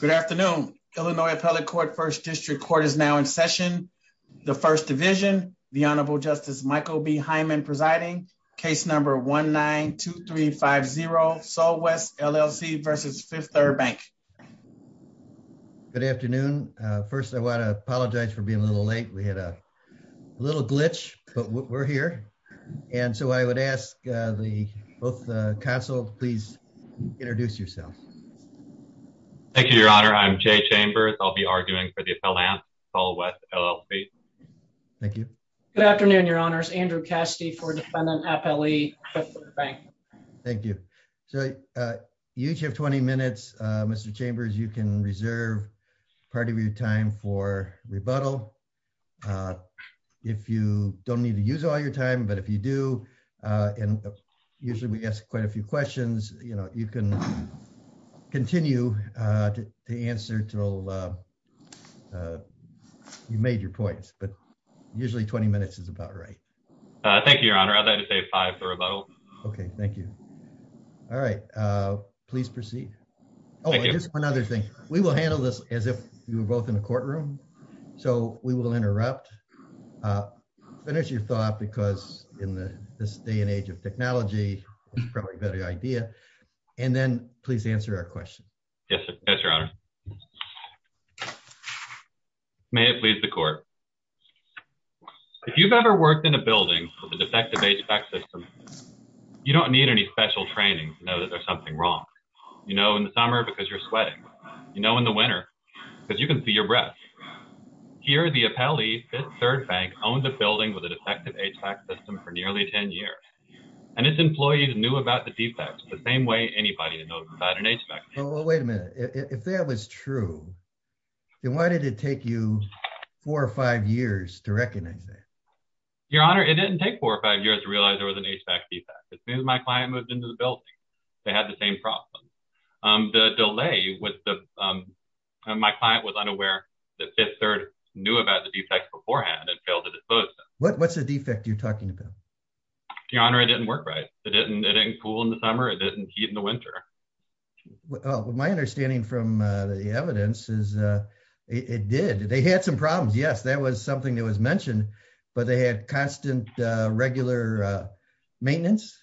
Good afternoon. Illinois Appellate Court First District Court is now in session. The First Division, the Honorable Justice Michael B. Hyman presiding, case number 1-9-2-3-5-0, Southwest LLC versus Fifth Third Bank. Good afternoon. First, I want to apologize for being a little late. We had a little glitch, but we're here. And so I would ask the both consuls, please introduce yourself. Thank you, Your Honor. I'm Jay Chambers. I'll be arguing for the Appellate West LLC. Thank you. Good afternoon, Your Honors. Andrew Cassidy for Defendant Appellee, Fifth Third Bank. Thank you. So you each have 20 minutes, Mr. Chambers. You can reserve part of your time for rebuttal. If you don't need to use all your time, but if you do, and usually we ask quite a few questions, you can continue to answer until you've made your points. But usually 20 minutes is about right. Thank you, Your Honor. I'd rather say five for rebuttal. Okay. Thank you. All right. Please proceed. Oh, just one other thing. We will handle this as if you were both in a courtroom. So we will interrupt. Finish your thought because in this day and age of technology, it's probably a better idea. And then please answer our question. Yes, Your Honor. May it please the court. If you've ever worked in a building with a defective HVAC system, you don't need any special training to know that there's something wrong. You know, in the summer, because you're sweating, you know, in the winter, because you can see your breath. Here, the Appellee, Fifth Third Bank owns a building with a defective HVAC system for nearly 10 years. And its employees knew about the defects the same way anybody knows about an HVAC system. Well, wait a minute. If that was true, then why did it take you four or five years to recognize that? Your Honor, it didn't take four or five years to realize there was an HVAC defect. As soon as my client moved into the building, they had the same problem. The delay was, my client was unaware that Fifth Third knew about the defect beforehand and failed to dispose of it. What's the defect you're talking about? Your Honor, it didn't work right. It didn't cool in the summer. It didn't heat in the winter. Well, my understanding from the evidence is it did. They had some problems. Yes, that was something that was mentioned, but they had constant regular maintenance.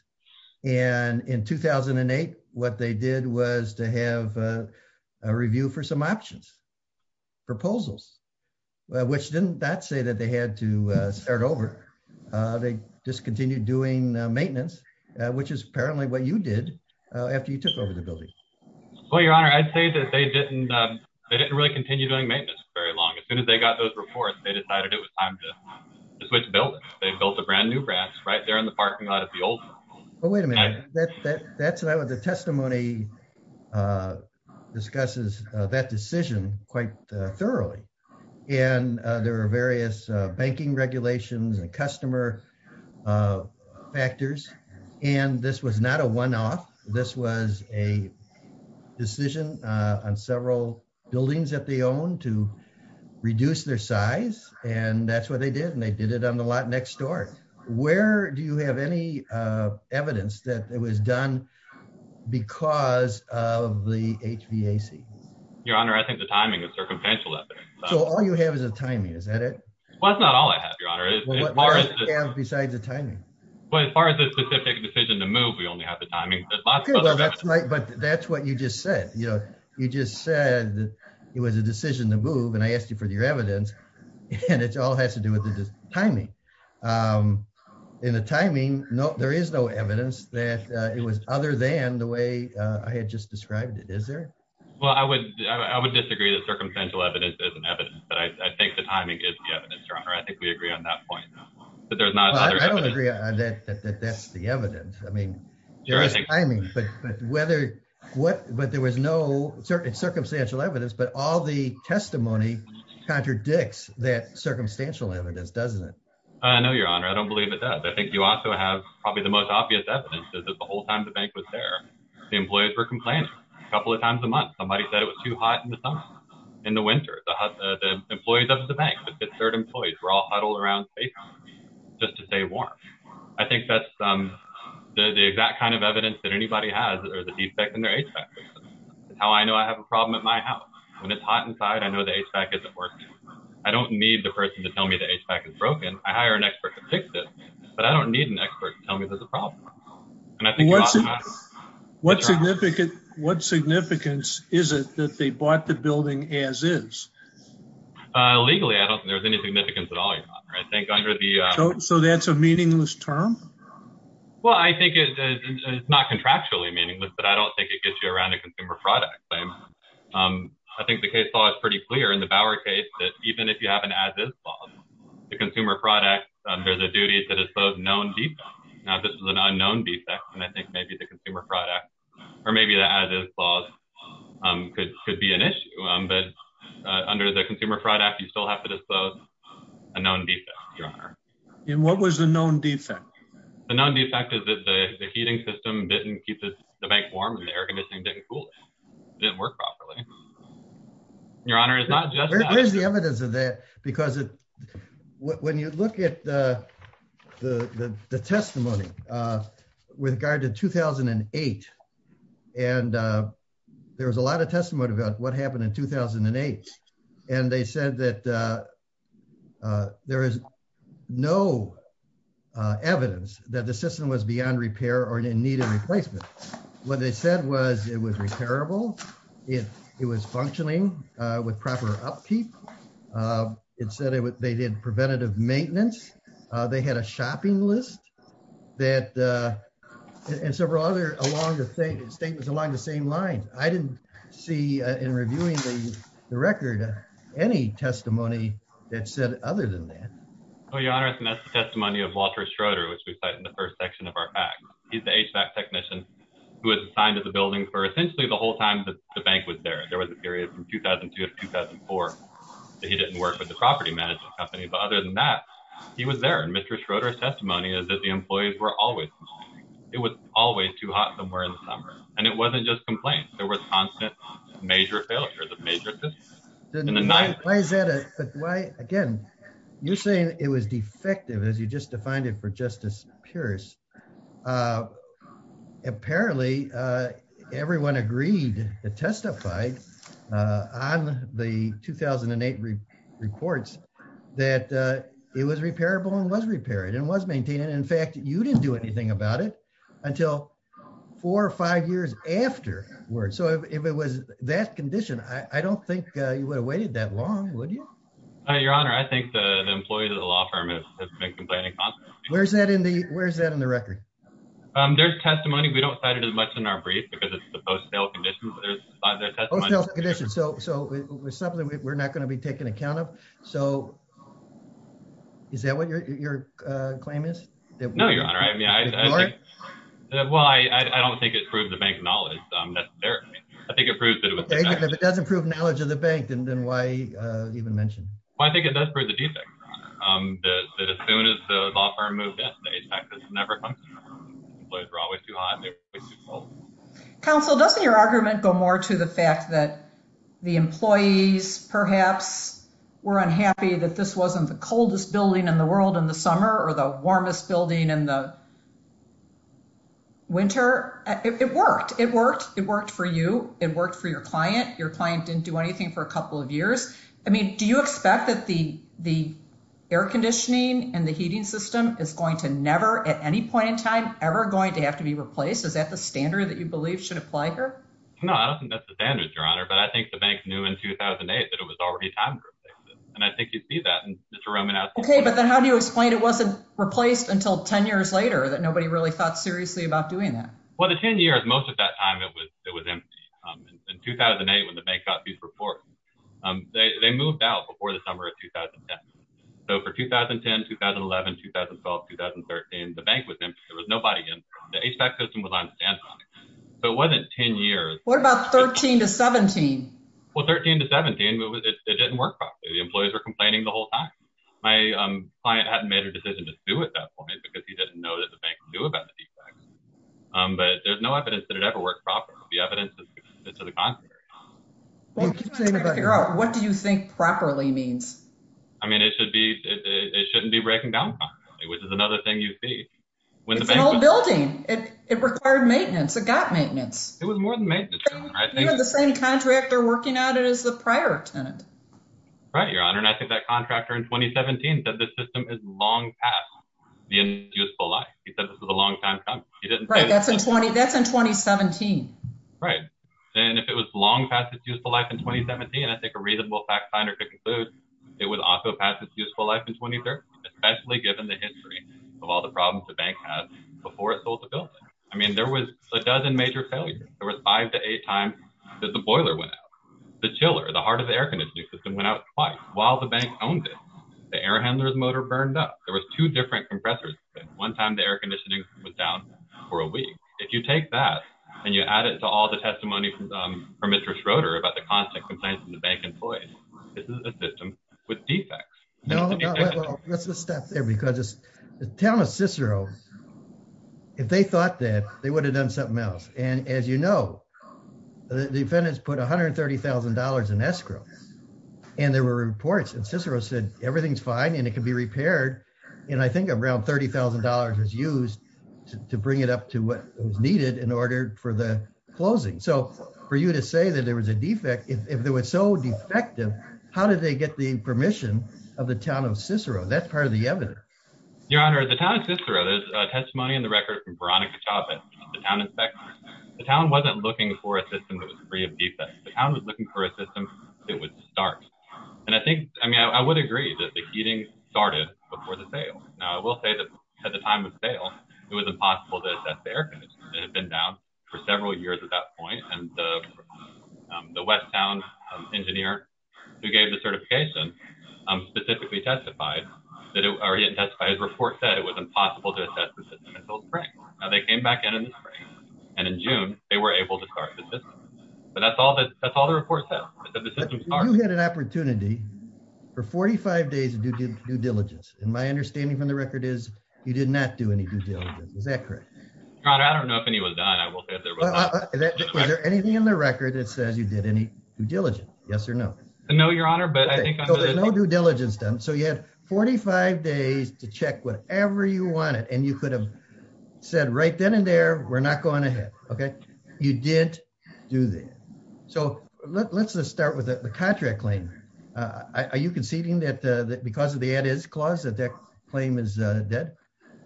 And in 2008, what they did was to have a review for some options, proposals, which didn't say that they had to start over. They just continued doing maintenance, which is apparently what you did after you took over the building. Well, Your Honor, I'd say that they didn't really continue doing maintenance for very long. As soon as they got those reports, they decided it was time to switch buildings. They built a brand new branch right there in the parking lot of the old one. Well, wait a minute. That's not what the quite thoroughly. And there were various banking regulations and customer factors. And this was not a one-off. This was a decision on several buildings that they own to reduce their size. And that's what they did. And they did it on the lot next door. Where do you have any evidence that it was done because of the HVAC? Your Honor, I think the timing is circumstantial. So all you have is a timing. Is that it? Well, that's not all I have, Your Honor. Besides the timing. But as far as the specific decision to move, we only have the timing. But that's what you just said. You just said it was a decision to move and I asked you for your evidence and it all has to do with the timing. In the timing, there is no evidence that it was other than the way I had just described it. Is there? Well, I would disagree that circumstantial evidence is an evidence. But I think the timing is the evidence, Your Honor. I think we agree on that point. But there's not another evidence. I don't agree that that's the evidence. I mean, there is timing. But there was no circumstantial evidence. But all the testimony contradicts that circumstantial evidence, doesn't it? I know, Your Honor. I don't believe it does. I think you also have probably the most obvious evidence is that the whole time the bank was there, the employees were complaining. A couple of times a month, somebody said it was too hot in the summer. In the winter, the employees of the bank, the third employees were all huddled around just to stay warm. I think that's the exact kind of evidence that anybody has or the defect in their HVAC system. It's how I know I have a problem at my house. When it's hot inside, I know the HVAC isn't working. I don't need the person to tell me the HVAC is broken. I hire an expert to fix it. But I don't need an expert to tell me there's a problem. What significance is it that they bought the building as is? Legally, I don't think there's any significance at all. So that's a meaningless term? Well, I think it's not contractually meaningless, but I don't think it gets you around a consumer product claim. I think the case law is pretty clear in the Bauer case that even if you have a consumer product, there's a duty to dispose known defects. Now, this is an unknown defect, and I think maybe the consumer product or maybe the as-is clause could be an issue. But under the consumer product, you still have to dispose a known defect, Your Honor. And what was the known defect? The known defect is that the heating system didn't keep the bank warm and the air conditioning didn't cool it. It didn't work properly. Your Honor, it's not just that. There's the evidence of that because when you look at the testimony with regard to 2008, and there was a lot of testimony about what happened in 2008. And they said that there is no evidence that the system was beyond repair or in need of replacement. What they said was it was repairable. It was functioning with proper upkeep. It said they did preventative maintenance. They had a shopping list and several other along the same lines. I didn't see in reviewing the record any testimony that said other than that. Well, Your Honor, that's the testimony of Walter Schroeder, which we cite in the first section of our act. He's the HVAC technician who was assigned to the building for essentially the whole time that the bank was there. There was a period from 2002 to 2004 that he didn't work with the property management company. But other than that, he was there. And Mr. Schroeder's testimony is that the employees were always, it was always too hot somewhere in the summer. And it wasn't just complaints. There was constant major failures of major systems. Then why is that? Again, you're saying it was defective as you just defined it for Justice Pierce. Apparently, everyone agreed that testified on the 2008 reports that it was repairable and was repaired and was maintained. And in fact, you didn't do anything about it until four or five years afterward. So if it was that condition, I don't think you would have waited that long, would you? Your Honor, I think that an employee of the law firm has been complaining constantly. Where's that in the record? There's testimony. We don't cite it as much in our brief because it's the post-sale conditions. So we're not going to be taking account of. So is that what your claim is? No, Your Honor. Well, I don't think it proves the bank knowledge necessarily. I think it proves that it was defective. If it doesn't prove knowledge of the bank, then why even mention? Well, I think it does prove the defect, that as soon as the law firm moved in, the HVAC system never comes in. Employees are always too hot and they're always too cold. Counsel, doesn't your argument go more to the fact that the employees perhaps were unhappy that this wasn't the coldest building in the world in the summer or the warmest building in the winter? It worked. It worked. It worked for you. It worked for your client. Your client didn't do anything for a couple of years. Do you expect that the air conditioning and the heating system is going to never, at any point in time, ever going to have to be replaced? Is that the standard that you believe should apply here? No, I don't think that's the standard, Your Honor. But I think the bank knew in 2008 that it was already time to replace it. And I think you'd see that in Mr. Romanowski's book. Okay, but then how do you explain it wasn't replaced until 10 years later that nobody really thought seriously about doing that? Well, the 10 years, most of that time, it was empty. In 2008, when the bank got these reports, they moved out before the summer of 2010. So for 2010, 2011, 2012, 2013, the bank was empty. There was nobody in. The HVAC system was on standby. So it wasn't 10 years. What about 13 to 17? Well, 13 to 17, it didn't work properly. The employees were complaining the whole time. My client hadn't made a decision to sue at that time. But there's no evidence that it ever worked properly. The evidence is to the contrary. What do you think properly means? I mean, it shouldn't be breaking down properly, which is another thing you see. It's an old building. It required maintenance. It got maintenance. It was more than maintenance. You had the same contractor working on it as the prior tenant. Right, Your Honor. And I think that contractor in 2017 said the system is long past the useful life. He said this was a long time coming. Right, that's in 2017. Right. And if it was long past its useful life in 2017, I think a reasonable fact finder could conclude it was also past its useful life in 2013, especially given the history of all the problems the bank had before it sold the building. I mean, there was a dozen major failures. There was five to eight times that the boiler went out. The chiller, the heart of the air conditioning system went out twice. While the bank owned it, the air handler's motor burned up. There were two different compressors. One time the air conditioning was down for a week. If you take that and you add it to all the testimony from Mr. Schroeder about the constant complaints from the bank employees, this is a system with defects. No, let's stop there because the town of Cicero, if they thought that, they would have done something else. And as you know, the defendants put $130,000 in escrow and there were reports Cicero said everything's fine and it can be repaired. And I think around $30,000 was used to bring it up to what was needed in order for the closing. So for you to say that there was a defect, if there was so defective, how did they get the permission of the town of Cicero? That's part of the evidence. Your Honor, the town of Cicero, there's a testimony in the record from Veronica Chavez, the town inspector. The town wasn't looking for a system that was free of defects. The town was looking for a system that would start. And I think, I mean, I would agree that the heating started before the sale. Now I will say that at the time of sale, it was impossible to assess the air conditioning. It had been down for several years at that point. And the West Town engineer who gave the certification specifically testified that it, or he had testified, his report said it was impossible to assess the system until the spring. Now they came back in in the spring and in June, they were able to start the system. But that's all that, that's all the report says. You had an opportunity for 45 days of due diligence. And my understanding from the record is you did not do any due diligence. Is that correct? Your Honor, I don't know if any was done. I will say that there was not. Is there anything in the record that says you did any due diligence? Yes or no? No, Your Honor, but I think I'm... So there's no due diligence done. So you had 45 days to check whatever you wanted, and you could have said right then and there, we're not going ahead. Okay. You didn't do that. So let's just start with the contract claim. Are you conceding that because of the add is clause that that claim is dead?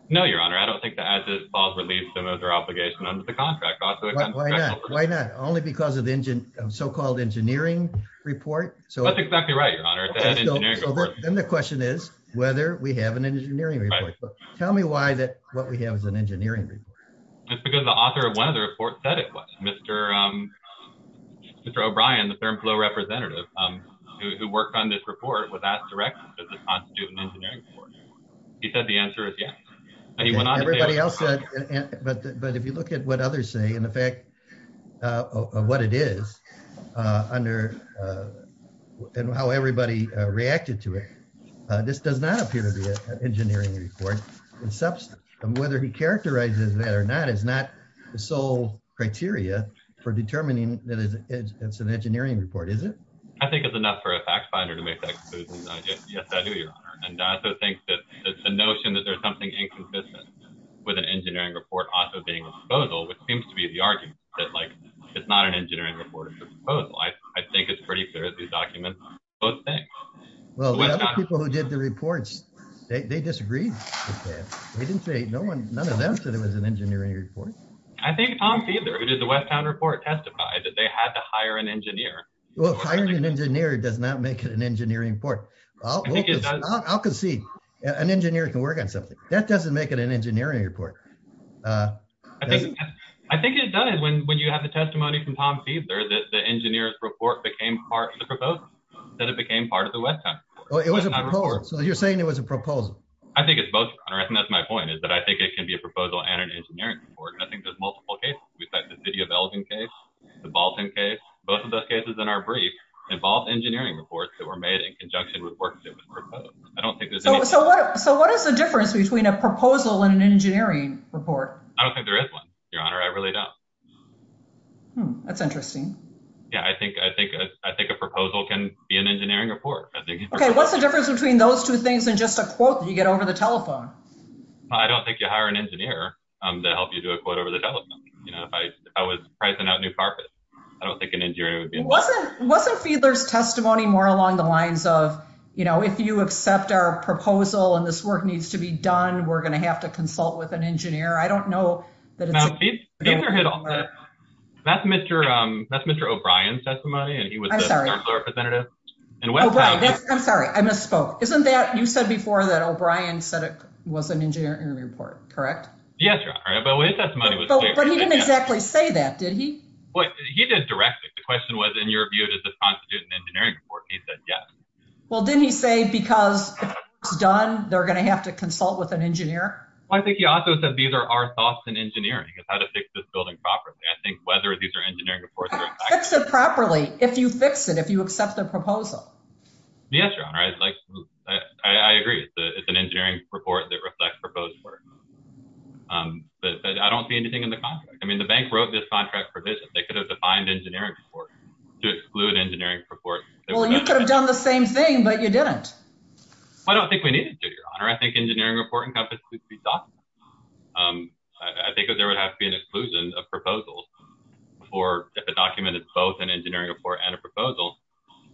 No, Your Honor. I don't think the add is clause relieves them of their obligation under the contract. Why not? Only because of the so-called engineering report. So that's exactly right, Your Honor. Then the question is whether we have an engineering report. Tell me why that what we have is an engineering report. Just because the author of one of the reports said it was. Mr. O'Brien, the ThermFlow representative who worked on this report was asked directly, does this constitute an engineering report? He said the answer is yes. And he went on to say... Everybody else said... But if you look at what others say and the fact of what it is under and how everybody reacted to it, this does not appear to be an engineering report in substance. And whether he characterizes that or not is not the sole criteria for determining that it's an engineering report, is it? I think it's enough for a fact finder to make that conclusion. Yes, I do, Your Honor. And I also think that the notion that there's something inconsistent with an engineering report also being a proposal, which seems to be the argument that it's not an engineering report, it's a proposal. I think it's pretty clear that these documents both think. Well, the other people who did the reports, they disagreed with that. They didn't say... None of them said it was an engineering report. I think Tom Fiedler, who did the Westtown report, testified that they had to hire an engineer. Well, hiring an engineer does not make it an engineering report. I'll concede, an engineer can work on something. That doesn't make it an engineering report. I think it does when you have the testimony from Tom Fiedler that the engineer's report became part of the proposal, that it became part of the Westtown report. So you're saying it was a proposal? I think it's both, Your Honor. I think that's my point, is that I think it can be a proposal and an engineering report. And I think there's multiple cases. We've got the City of Elgin case, the Balton case. Both of those cases in our brief involved engineering reports that were made in conjunction with works that was proposed. I don't think there's any... So what is the difference between a proposal and an engineering report? I don't think there is one, Your Honor. I really don't. That's interesting. Yeah, I think a proposal can be an engineering report. Okay, what's the difference between those two things and just a quote that you get over the telephone? I don't think you hire an engineer to help you do a quote over the telephone. You know, if I was pricing out new carpet, I don't think an engineer would be involved. Wasn't Fiedler's testimony more along the lines of, you know, if you accept our proposal and this work needs to be done, we're going to have to consult with an engineer. I don't know that... That's Mr. O'Brien's testimony, and he was the representative. O'Brien, I'm sorry, I misspoke. Isn't that... You said before that O'Brien said it was an engineering report, correct? Yes, Your Honor, but his testimony was... But he didn't exactly say that, did he? Well, he did directly. The question was, in your view, does this constitute an engineering report? He said yes. Well, didn't he say because it's done, they're going to have to consult with an engineer? Well, I think he also said these are our thoughts in engineering, is how to fix this building properly. I think whether these are engineering reports or... Fix it properly, if you fix it, if you accept the proposal. Yes, Your Honor, I agree. It's an engineering report that reflects proposed work, but I don't see anything in the contract. I mean, the bank wrote this contract provision. They could have defined engineering report to exclude engineering report. Well, you could have done the same thing, but you didn't. Well, I don't think we needed to, Your Honor. I think engineering report encompassed... I think that there would have to be an exclusion of proposals for if it documented both an engineering report and a proposal,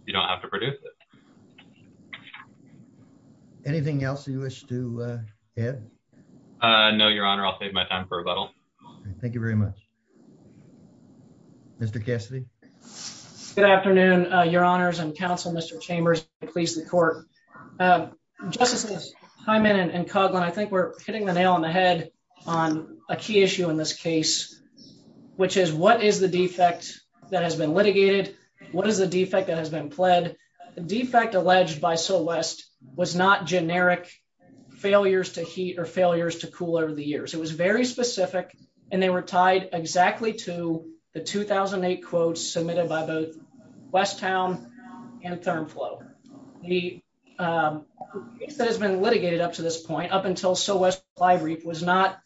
you don't have to produce it. Anything else you wish to add? No, Your Honor, I'll save my time for rebuttal. Thank you very much. Mr. Cassidy? Good afternoon, Your Honors and counsel, Mr. Chambers, please, the court. Justices Hyman and Coughlin, I think we're hitting the nail on the head on a key issue in this case, which is what is the defect that has been litigated? What is the defect that has been pled? The defect alleged by Southwest was not generic failures to heat or failures to cool over the years. It was very specific and they were tied exactly to the 2008 quotes submitted by both Westown and ThermFlow. The case that has been litigated up to this point, up until Southwest Supply Reef was not...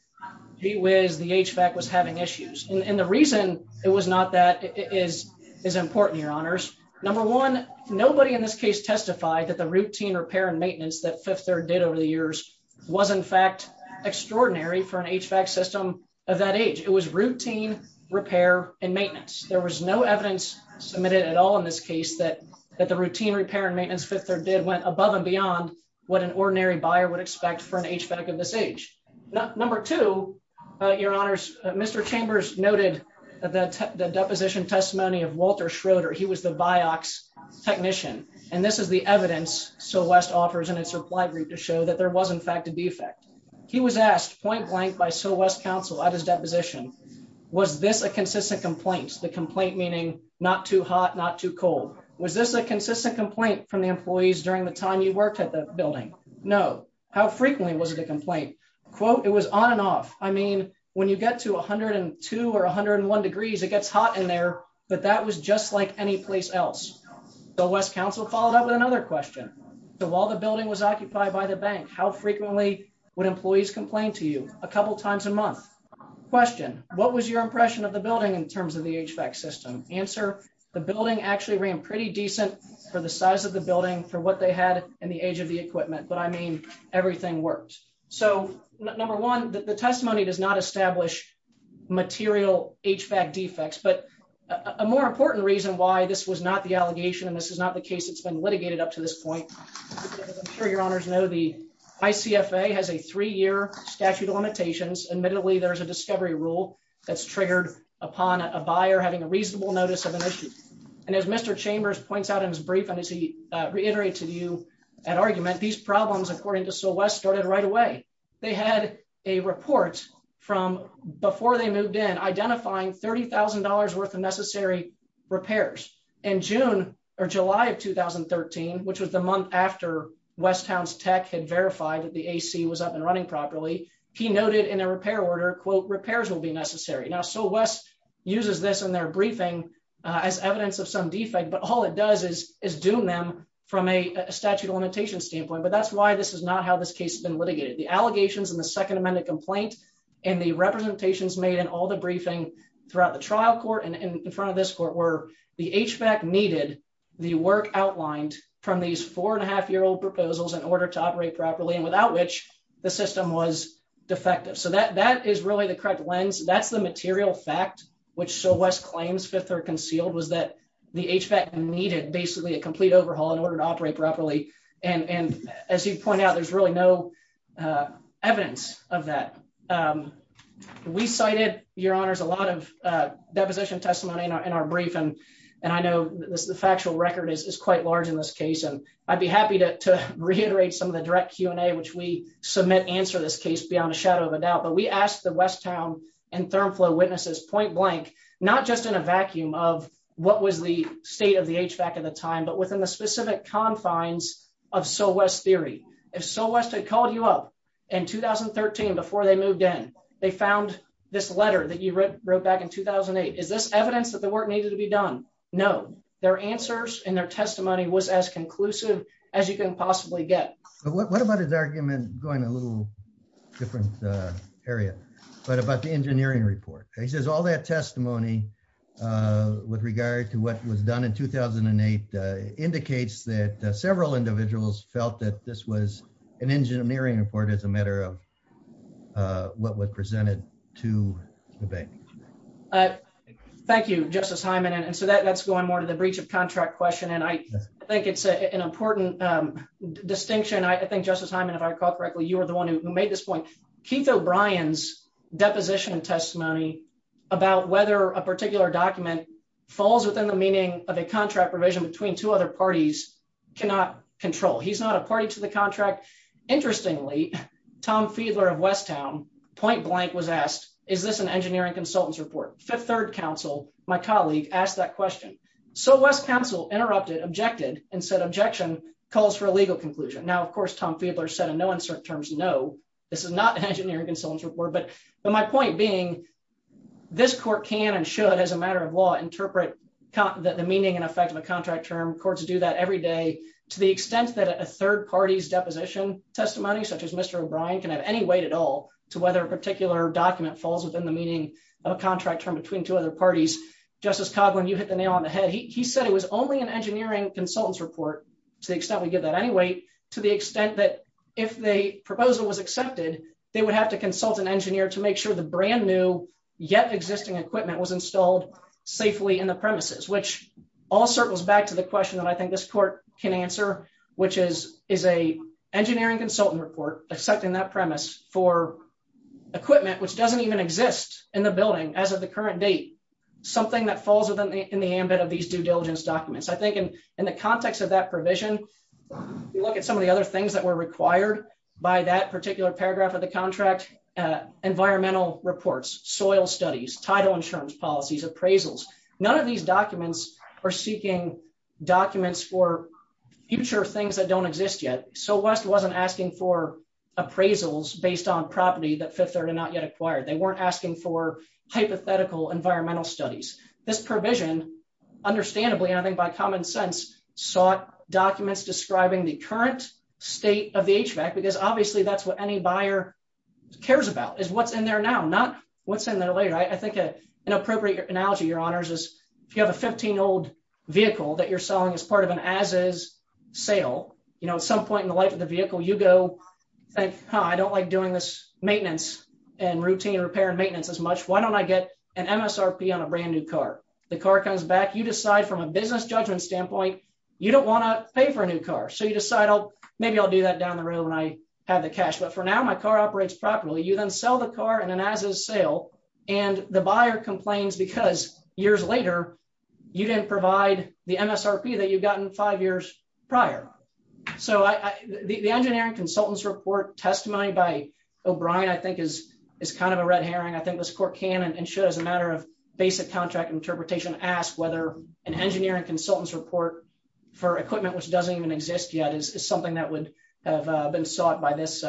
The HVAC was having issues. And the reason it was not that is important, Your Honors. Number one, nobody in this case testified that the routine repair and maintenance that Fifth Third did over the years was in fact extraordinary for an HVAC system of that age. It was routine repair and maintenance. There was no evidence submitted at all in this case that the routine repair and maintenance Fifth Third did went above and beyond what an ordinary buyer would expect for an HVAC of this age. Number two, Your Honors, Mr. Chambers noted the deposition testimony of Walter Schroeder. He was the Vioxx technician. And this is the evidence Southwest offers in its reply group to show that there was in fact a defect. He was asked point blank by West Council at his deposition, was this a consistent complaint? The complaint meaning not too hot, not too cold. Was this a consistent complaint from the employees during the time you worked at the building? No. How frequently was it a complaint? Quote, it was on and off. I mean, when you get to 102 or 101 degrees, it gets hot in there, but that was just like any place else. The West Council followed up with another question. So while the building was occupied by the bank, how frequently would employees complain to you a couple times a month? Question. What was your impression of the building in terms of the HVAC system? Answer. The building actually ran pretty decent for the size of the building for what they had in the age of the equipment. But I mean, everything works. So number one, the testimony does not establish material HVAC defects, but a more important reason why this was not the allegation and this is not the case. It's been litigated up to this point. I'm sure Your Honors know the ICFA has a three-year statute of limitations. Admittedly, there's a discovery rule that's triggered upon a buyer having a reasonable notice of an issue. And as Mr. Chambers points out in his brief, and as he reiterated to you at argument, these problems, according to Syl West, started right away. They had a report from before they moved in identifying $30,000 worth of had verified that the AC was up and running properly. He noted in a repair order, quote, repairs will be necessary. Now Syl West uses this in their briefing as evidence of some defect, but all it does is doom them from a statute of limitations standpoint. But that's why this is not how this case has been litigated. The allegations in the Second Amendment complaint and the representations made in all the briefing throughout the trial court and in front of this court were the HVAC needed the work outlined from these four and a half year old proposals in order to operate properly and without which the system was defective. So that that is really the correct lens. That's the material fact, which Syl West claims fifth or concealed was that the HVAC needed basically a complete overhaul in order to operate properly. And as you point out, there's really no evidence of that. We cited, Your Honors, a lot of deposition testimony in our brief. And I know the factual record is quite large in this case. And I'd be happy to reiterate some of the direct Q&A, which we submit, answer this case beyond a shadow of a doubt. But we asked the West Town and ThermFlow witnesses point blank, not just in a vacuum of what was the state of the HVAC at the time, but within the specific confines of Syl West's theory. If Syl West had called you up in 2013 before they moved in, they found this letter that you wrote back in 2008. Is this evidence that the work needed to be done? No. Their answers and their testimony was as conclusive as you can possibly get. What about his argument going a little different area, but about the engineering report? He says all that testimony with regard to what was done in 2008 indicates that several individuals felt that this was an engineering report as a matter of what was presented to the bank. Thank you, Justice Hyman. And so that's going more to reach a contract question. And I think it's an important distinction. I think, Justice Hyman, if I recall correctly, you were the one who made this point. Keith O'Brien's deposition testimony about whether a particular document falls within the meaning of a contract provision between two other parties cannot control. He's not a party to the contract. Interestingly, Tom Fiedler of West Town point blank was asked, is this an engineering consultants report? Fifth Third Council, my colleague, asked that question. So West Council interrupted, objected and said objection calls for a legal conclusion. Now, of course, Tom Fiedler said in no uncertain terms, no, this is not an engineering consultants report. But my point being, this court can and should, as a matter of law, interpret the meaning and effect of a contract term. Courts do that every day to the extent that a third party's deposition testimony such as Mr. O'Brien can have any weight at all to whether a particular document falls within the meaning of a contract term between two other parties. Justice Coughlin, you hit the nail on the head. He said it was only an engineering consultants report to the extent we get that anyway, to the extent that if the proposal was accepted, they would have to consult an engineer to make sure the brand new yet existing equipment was installed safely in the premises, which all circles back to the question that I think this court can answer, which is is a engineering consultant report accepting that for equipment which doesn't even exist in the building as of the current date, something that falls within the ambit of these due diligence documents. I think in the context of that provision, you look at some of the other things that were required by that particular paragraph of the contract, environmental reports, soil studies, title insurance policies, appraisals. None of these documents are seeking documents for future things that don't exist yet. So West wasn't asking for appraisals based on property that Fifth Third had not yet acquired. They weren't asking for hypothetical environmental studies. This provision, understandably, I think by common sense, sought documents describing the current state of the HVAC because obviously that's what any buyer cares about is what's in there now, not what's in there later. I think an appropriate analogy, Your Honors, is if you have a 15-old vehicle that you're selling as part of an as-is sale, at some point in the life of the vehicle, you go, I don't like doing this maintenance and routine repair and maintenance as much. Why don't I get an MSRP on a brand new car? The car comes back. You decide from a business judgment standpoint, you don't want to pay for a new car. So you decide, maybe I'll do that down the road when I have the cash. But for now, my car operates properly. You then sell the car in an as-is sale, and the buyer complains because years later, you didn't provide the MSRP that you'd gotten five years prior. So the engineering consultant's report testimony by O'Brien, I think, is kind of a red herring. I think this court can and should, as a matter of basic contract interpretation, ask whether an engineering consultant's report for equipment which doesn't even exist yet is something that would have been sought by this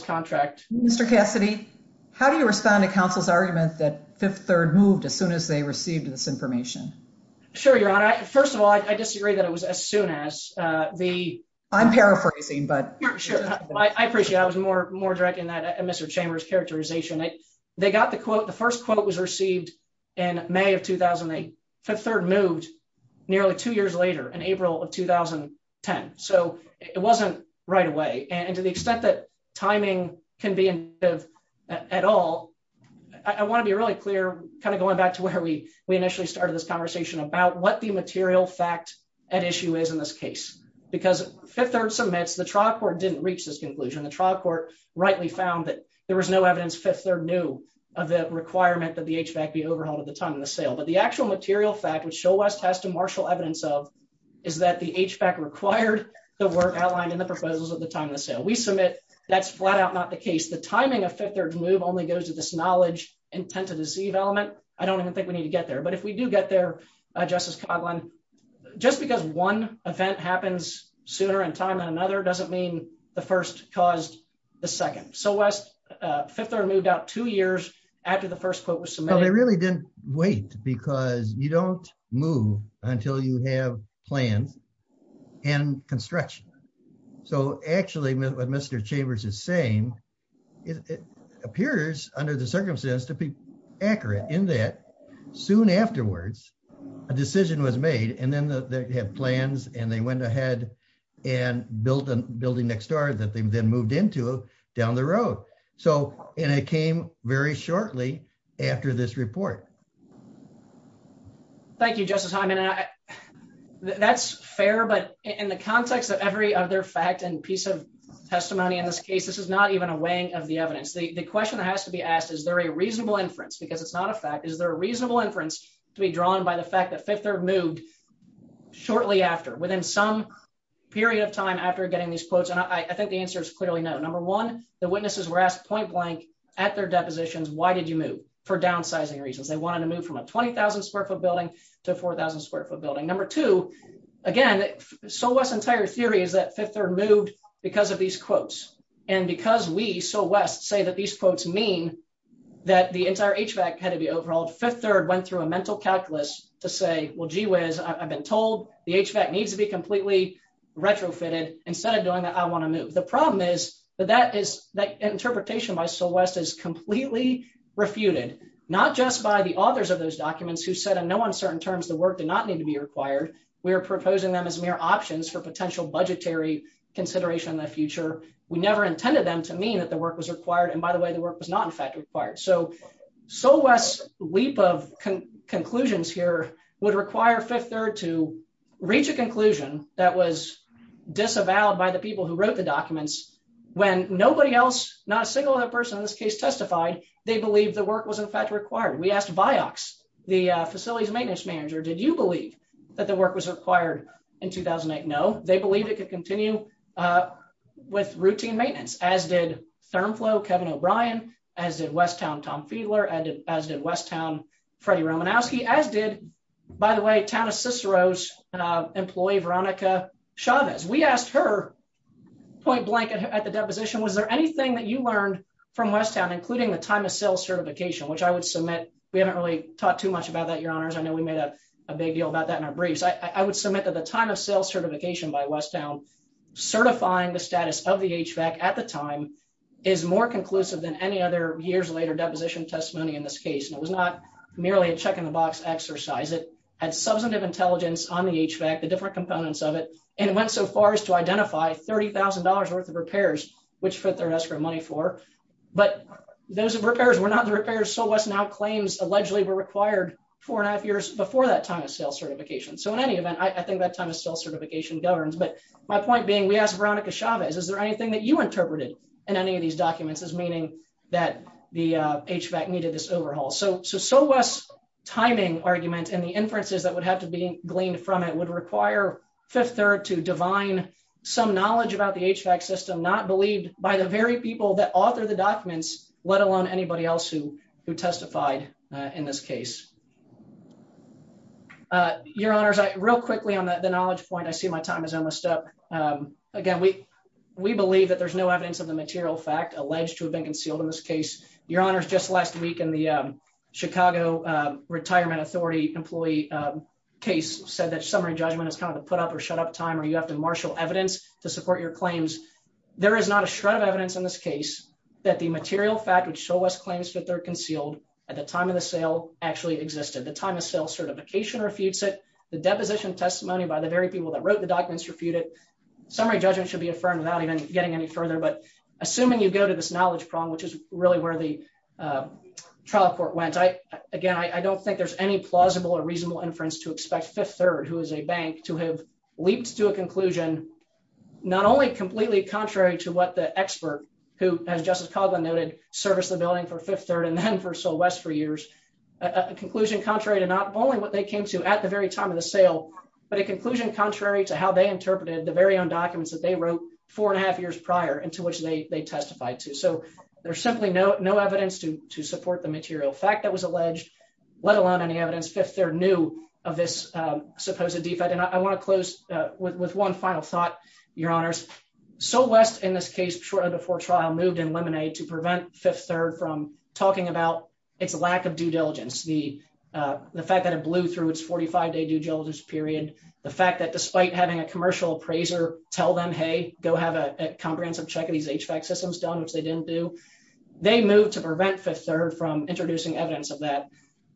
contract. Mr. Cassidy, how do you respond to counsel's argument that Fifth Third moved as received this information? Sure, Your Honor. First of all, I disagree that it was as soon as the- I'm paraphrasing, but- Sure. I appreciate it. I was more direct in that, Mr. Chambers, characterization. They got the quote, the first quote was received in May of 2008. Fifth Third moved nearly two years later, in April of 2010. So it wasn't right away. And to the extent that we initially started this conversation about what the material fact at issue is in this case, because Fifth Third submits, the trial court didn't reach this conclusion. The trial court rightly found that there was no evidence Fifth Third knew of the requirement that the HVAC be overhauled at the time of the sale. But the actual material fact, which Shoalwest has to marshal evidence of, is that the HVAC required the work outlined in the proposals at the time of the sale. We submit that's flat out not the case. The timing of Fifth Third's move only goes to this knowledge intent to deceive element. I don't even think we need to get there. But if we do get there, Justice Coghlan, just because one event happens sooner in time than another, doesn't mean the first caused the second. Shoalwest, Fifth Third moved out two years after the first quote was submitted. Well, they really didn't wait because you don't move until you have plans and construction. So actually what Mr. Chambers is saying, it appears under the circumstance to be accurate in that soon afterwards, a decision was made and then they have plans and they went ahead and built a building next door that they then moved into down the road. So, and it came very shortly after this report. Thank you, Justice Hyman. That's fair, but in the context of their fact and piece of testimony in this case, this is not even a weighing of the evidence. The question that has to be asked, is there a reasonable inference? Because it's not a fact, is there a reasonable inference to be drawn by the fact that Fifth Third moved shortly after, within some period of time after getting these quotes? And I think the answer is clearly no. Number one, the witnesses were asked point blank at their depositions, why did you move? For downsizing reasons. They wanted to move from a 20,000 square foot building to a 4,000 square foot building. Number two, again, So West's entire theory is that Fifth Third moved because of these quotes. And because we, So West, say that these quotes mean that the entire HVAC had to be overhauled, Fifth Third went through a mental calculus to say, well, gee whiz, I've been told the HVAC needs to be completely retrofitted instead of doing that, I want to move. The problem is that interpretation by So West is completely refuted, not just by the authors of those are proposing them as mere options for potential budgetary consideration in the future. We never intended them to mean that the work was required, and by the way, the work was not in fact required. So, So West's leap of conclusions here would require Fifth Third to reach a conclusion that was disavowed by the people who wrote the documents, when nobody else, not a single other person in this case testified, they believed the work was in fact required. We asked Vioxx, the Facilities Maintenance Manager, did you believe that the work was required in 2008? No, they believe it could continue with routine maintenance, as did ThermFlow, Kevin O'Brien, as did Westown, Tom Fiedler, as did Westown, Freddie Romanowski, as did, by the way, Town of Cicero's employee, Veronica Chavez. We asked her, point blank at the deposition, was there anything that you learned from Westown, including the time of sale certification, which I would submit, we haven't really talked too much about that, your honors. I know we made a big deal about that in our briefs. I would submit that the time of sale certification by Westown, certifying the status of the HVAC at the time is more conclusive than any other years later deposition testimony in this case, and it was not merely a check in the box exercise. It had substantive intelligence on the HVAC, the different components of it, and it went so far as to identify $30,000 worth of repairs, which fit their escrow money for, but those repairs were not the repairs SoWest now claims allegedly were required four and a half years before that time of sale certification. So in any event, I think that time of sale certification governs, but my point being, we asked Veronica Chavez, is there anything that you interpreted in any of these documents as meaning that the HVAC needed this overhaul? So SoWest's timing argument and the inferences that would have to be gleaned from it would require Fifth Third to divine some knowledge about the HVAC system not believed by the very people that author the documents, let alone anybody else who testified in this case. Your Honors, real quickly on the knowledge point, I see my time is almost up. Again, we believe that there's no evidence of the material fact alleged to have been concealed in this case. Your Honors, just last week in the Chicago Retirement Authority employee case said that summary judgment is kind of a put up or shut up time where you have to marshal evidence to support your claims. There is not a shred of evidence in this case that the material fact which SoWest claims that they're concealed at the time of the sale actually existed. The time of sale certification refutes it. The deposition testimony by the very people that wrote the documents refute it. Summary judgment should be affirmed without even getting any further. But assuming you go to this knowledge prong, which is really where the trial court went, again, I don't think there's any plausible or reasonable inference to expect Fifth Third, who is a bank, to have leaped to a conclusion not only completely contrary to what the expert who, as Justice Coghlan noted, serviced the building for Fifth Third and then for SoWest for years, a conclusion contrary to not only what they came to at the very time of the sale, but a conclusion contrary to how they interpreted the very own documents that they wrote four and a half years prior and to which they testified to. So there's simply no evidence to support the material fact that was alleged, let alone any evidence Fifth Third knew of this supposed defect. And I want to close with one final thought, Your Honors. SoWest, in this case, shortly before trial, moved in Lemonade to prevent Fifth Third from talking about its lack of due diligence, the fact that it blew through its 45-day due diligence period, the fact that despite having a commercial appraiser tell them, hey, go have a comprehensive check of these HVAC systems done, which they didn't do, they moved to prevent Fifth Third from introducing evidence of that.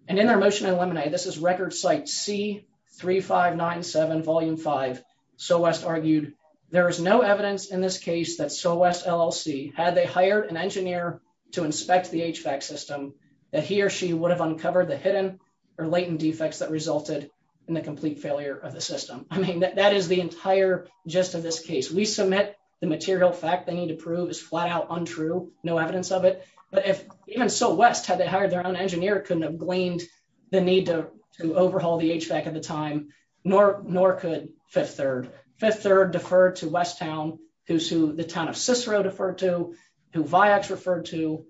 And in their motion in Lemonade, this is record site C-3597, Volume 5, SoWest argued, there is no evidence in this case that SoWest LLC, had they hired an engineer to inspect the HVAC system, that he or she would have uncovered the hidden or latent defects that resulted in the complete failure of the system. I mean, that is the entire gist of this case. We submit the material fact they need to prove is flat out untrue, no evidence of it. But if even SoWest, had they hired their own engineer, couldn't have gleaned the need to overhaul the HVAC at the time, nor could Fifth Third. Fifth Third deferred to Westown, who the town of Cicero deferred to, who Vioxx referred to,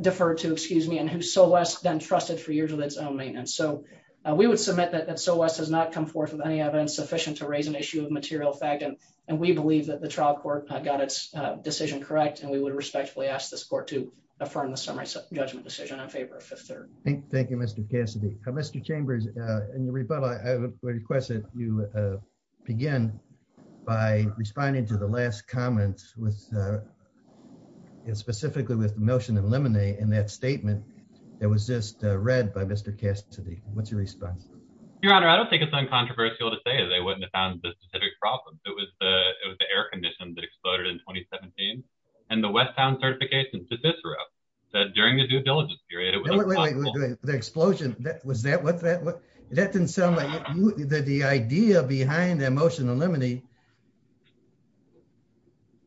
deferred to, excuse me, and who SoWest then trusted for years with its own maintenance. So we would submit that SoWest has not come forth with any evidence sufficient to raise an issue of material fact. And we believe that the trial court got its decision correct. And we would respectfully ask this court to affirm the summary judgment decision in favor of Fifth Third. Thank you, Mr. Cassidy. Mr. Chambers, in your rebuttal, I would request that you begin by responding to the last comment, specifically with the motion in Lemonade, in that statement that was just read by Mr. Cassidy. What's your response? Your Honor, I don't think it's uncontroversial to say they wouldn't have found the specific problem. It was the air condition that exploded in 2017. And the Westown certification to Cicero said during the due diligence period, it was the explosion that was that what that what that didn't sound like that the idea behind that motion in Lemonade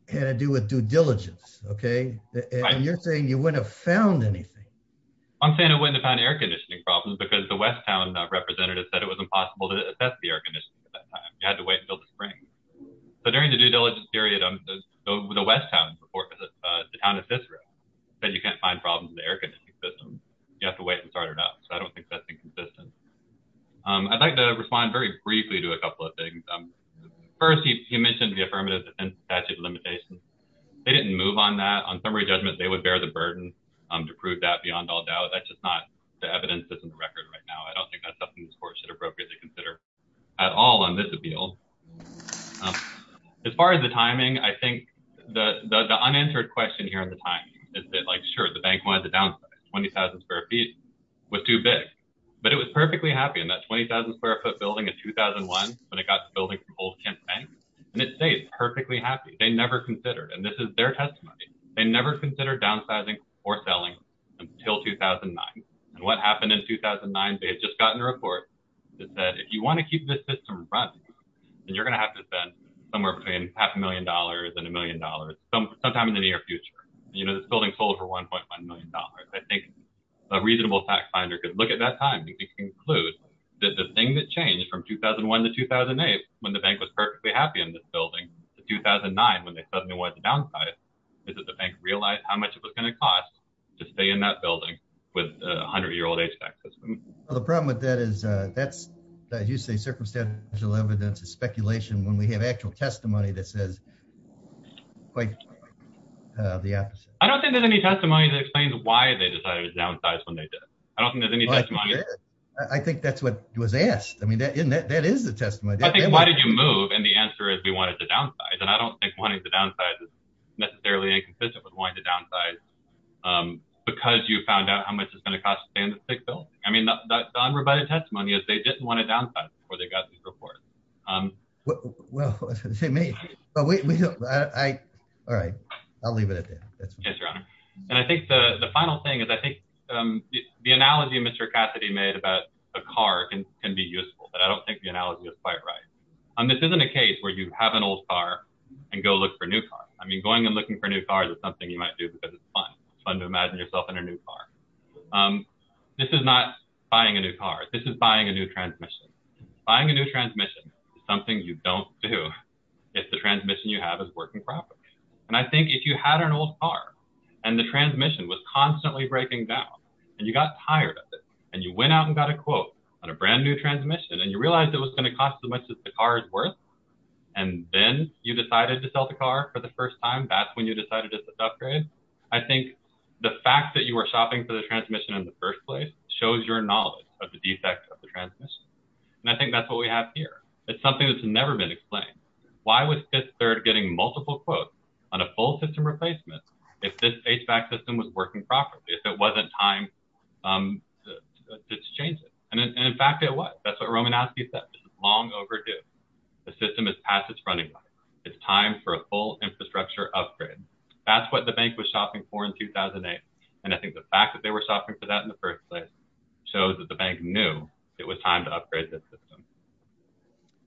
had to do with due diligence. Okay. And you're saying you wouldn't have found anything. I'm saying I wouldn't have found air conditioning problems because the Westown representative said it was impossible to assess the air conditioning at that time. You had to wait until the spring. But during the due diligence period, the Westown report, the town of Cicero said you can't find problems in the air conditioning system. You have to wait and start it up. So I don't think that's inconsistent. I'd like to respond very briefly to a couple of things. First, you mentioned the affirmative statute of limitations. They didn't move on that on judgment. They would bear the burden to prove that beyond all doubt. That's just not the evidence that's in the record right now. I don't think that's something the court should appropriately consider at all on this appeal. As far as the timing, I think the unanswered question here at the time is that, like, sure, the bank wanted to downsize. 20,000 square feet was too big. But it was perfectly happy in that 20,000 square foot building in 2001 when it got the building from Old Kent Bank. And it stayed perfectly happy. They never considered. And this is their testimony. They never considered downsizing or selling until 2009. And what happened in 2009, they had just gotten a report that said, if you want to keep this system running, then you're going to have to spend somewhere between half a million dollars and a million dollars sometime in the near future. You know, this building sold for $1.1 million. I think a reasonable tax finder could look at that time and conclude that the thing that changed from 2001 to 2008, when the bank was perfectly happy in this building, to 2009, when they suddenly wanted to downsize, is that the bank realized how much it was going to cost to stay in that building with a 100-year-old HVAC system. Well, the problem with that is that's, as you say, circumstantial evidence is speculation when we have actual testimony that says quite the opposite. I don't think there's any testimony that explains why they decided to downsize when they did it. I don't think there's any testimony. I think that's what was asked. I mean, that is the testimony. I think why did you move? And the answer is we wanted to downsize. And I don't think wanting to downsize is necessarily inconsistent with wanting to downsize because you found out how much it's going to cost to stay in this big building. I mean, the unrebutted testimony is they didn't want to downsize before they got these reports. Well, I was going to say, maybe. All right. I'll leave it at that. Yes, Your Honor. And I think the final thing is I think the analogy Mr. Cassidy made about a car can be useful, but I don't think the analogy is quite right. This isn't a case where you have an old car and go look for a new car. I mean, going and looking for new cars is something you might do because it's fun. It's fun to imagine yourself in a new car. This is not buying a new car. This is buying a new transmission. Buying a new transmission is something you don't do if the transmission you have is working properly. And I think if you had an old car and the transmission was constantly breaking down and you got tired of it and you went out and got a quote on a brand new transmission and you realized it was going to cost as much as the car was worth, and then you decided to sell the car for the first time, that's when you decided to upgrade. I think the fact that you were shopping for the transmission in the first place shows your knowledge of the defect of the transmission. And I think that's what we have here. It's something that's never been explained. Why was Fifth Third getting multiple quotes on a full system replacement if this HVAC system was working properly, if it wasn't time to change it? And in the system is past its running life. It's time for a full infrastructure upgrade. That's what the bank was shopping for in 2008. And I think the fact that they were shopping for that in the first place shows that the bank knew it was time to upgrade this system.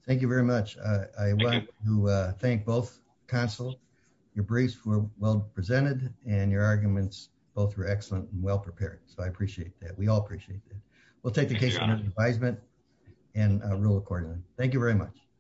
Thank you very much. I want to thank both counsels. Your briefs were well presented and your arguments both were excellent and well prepared. So I appreciate that. We all appreciate that. We'll take the case under advisement and rule accordingly. Thank you very much.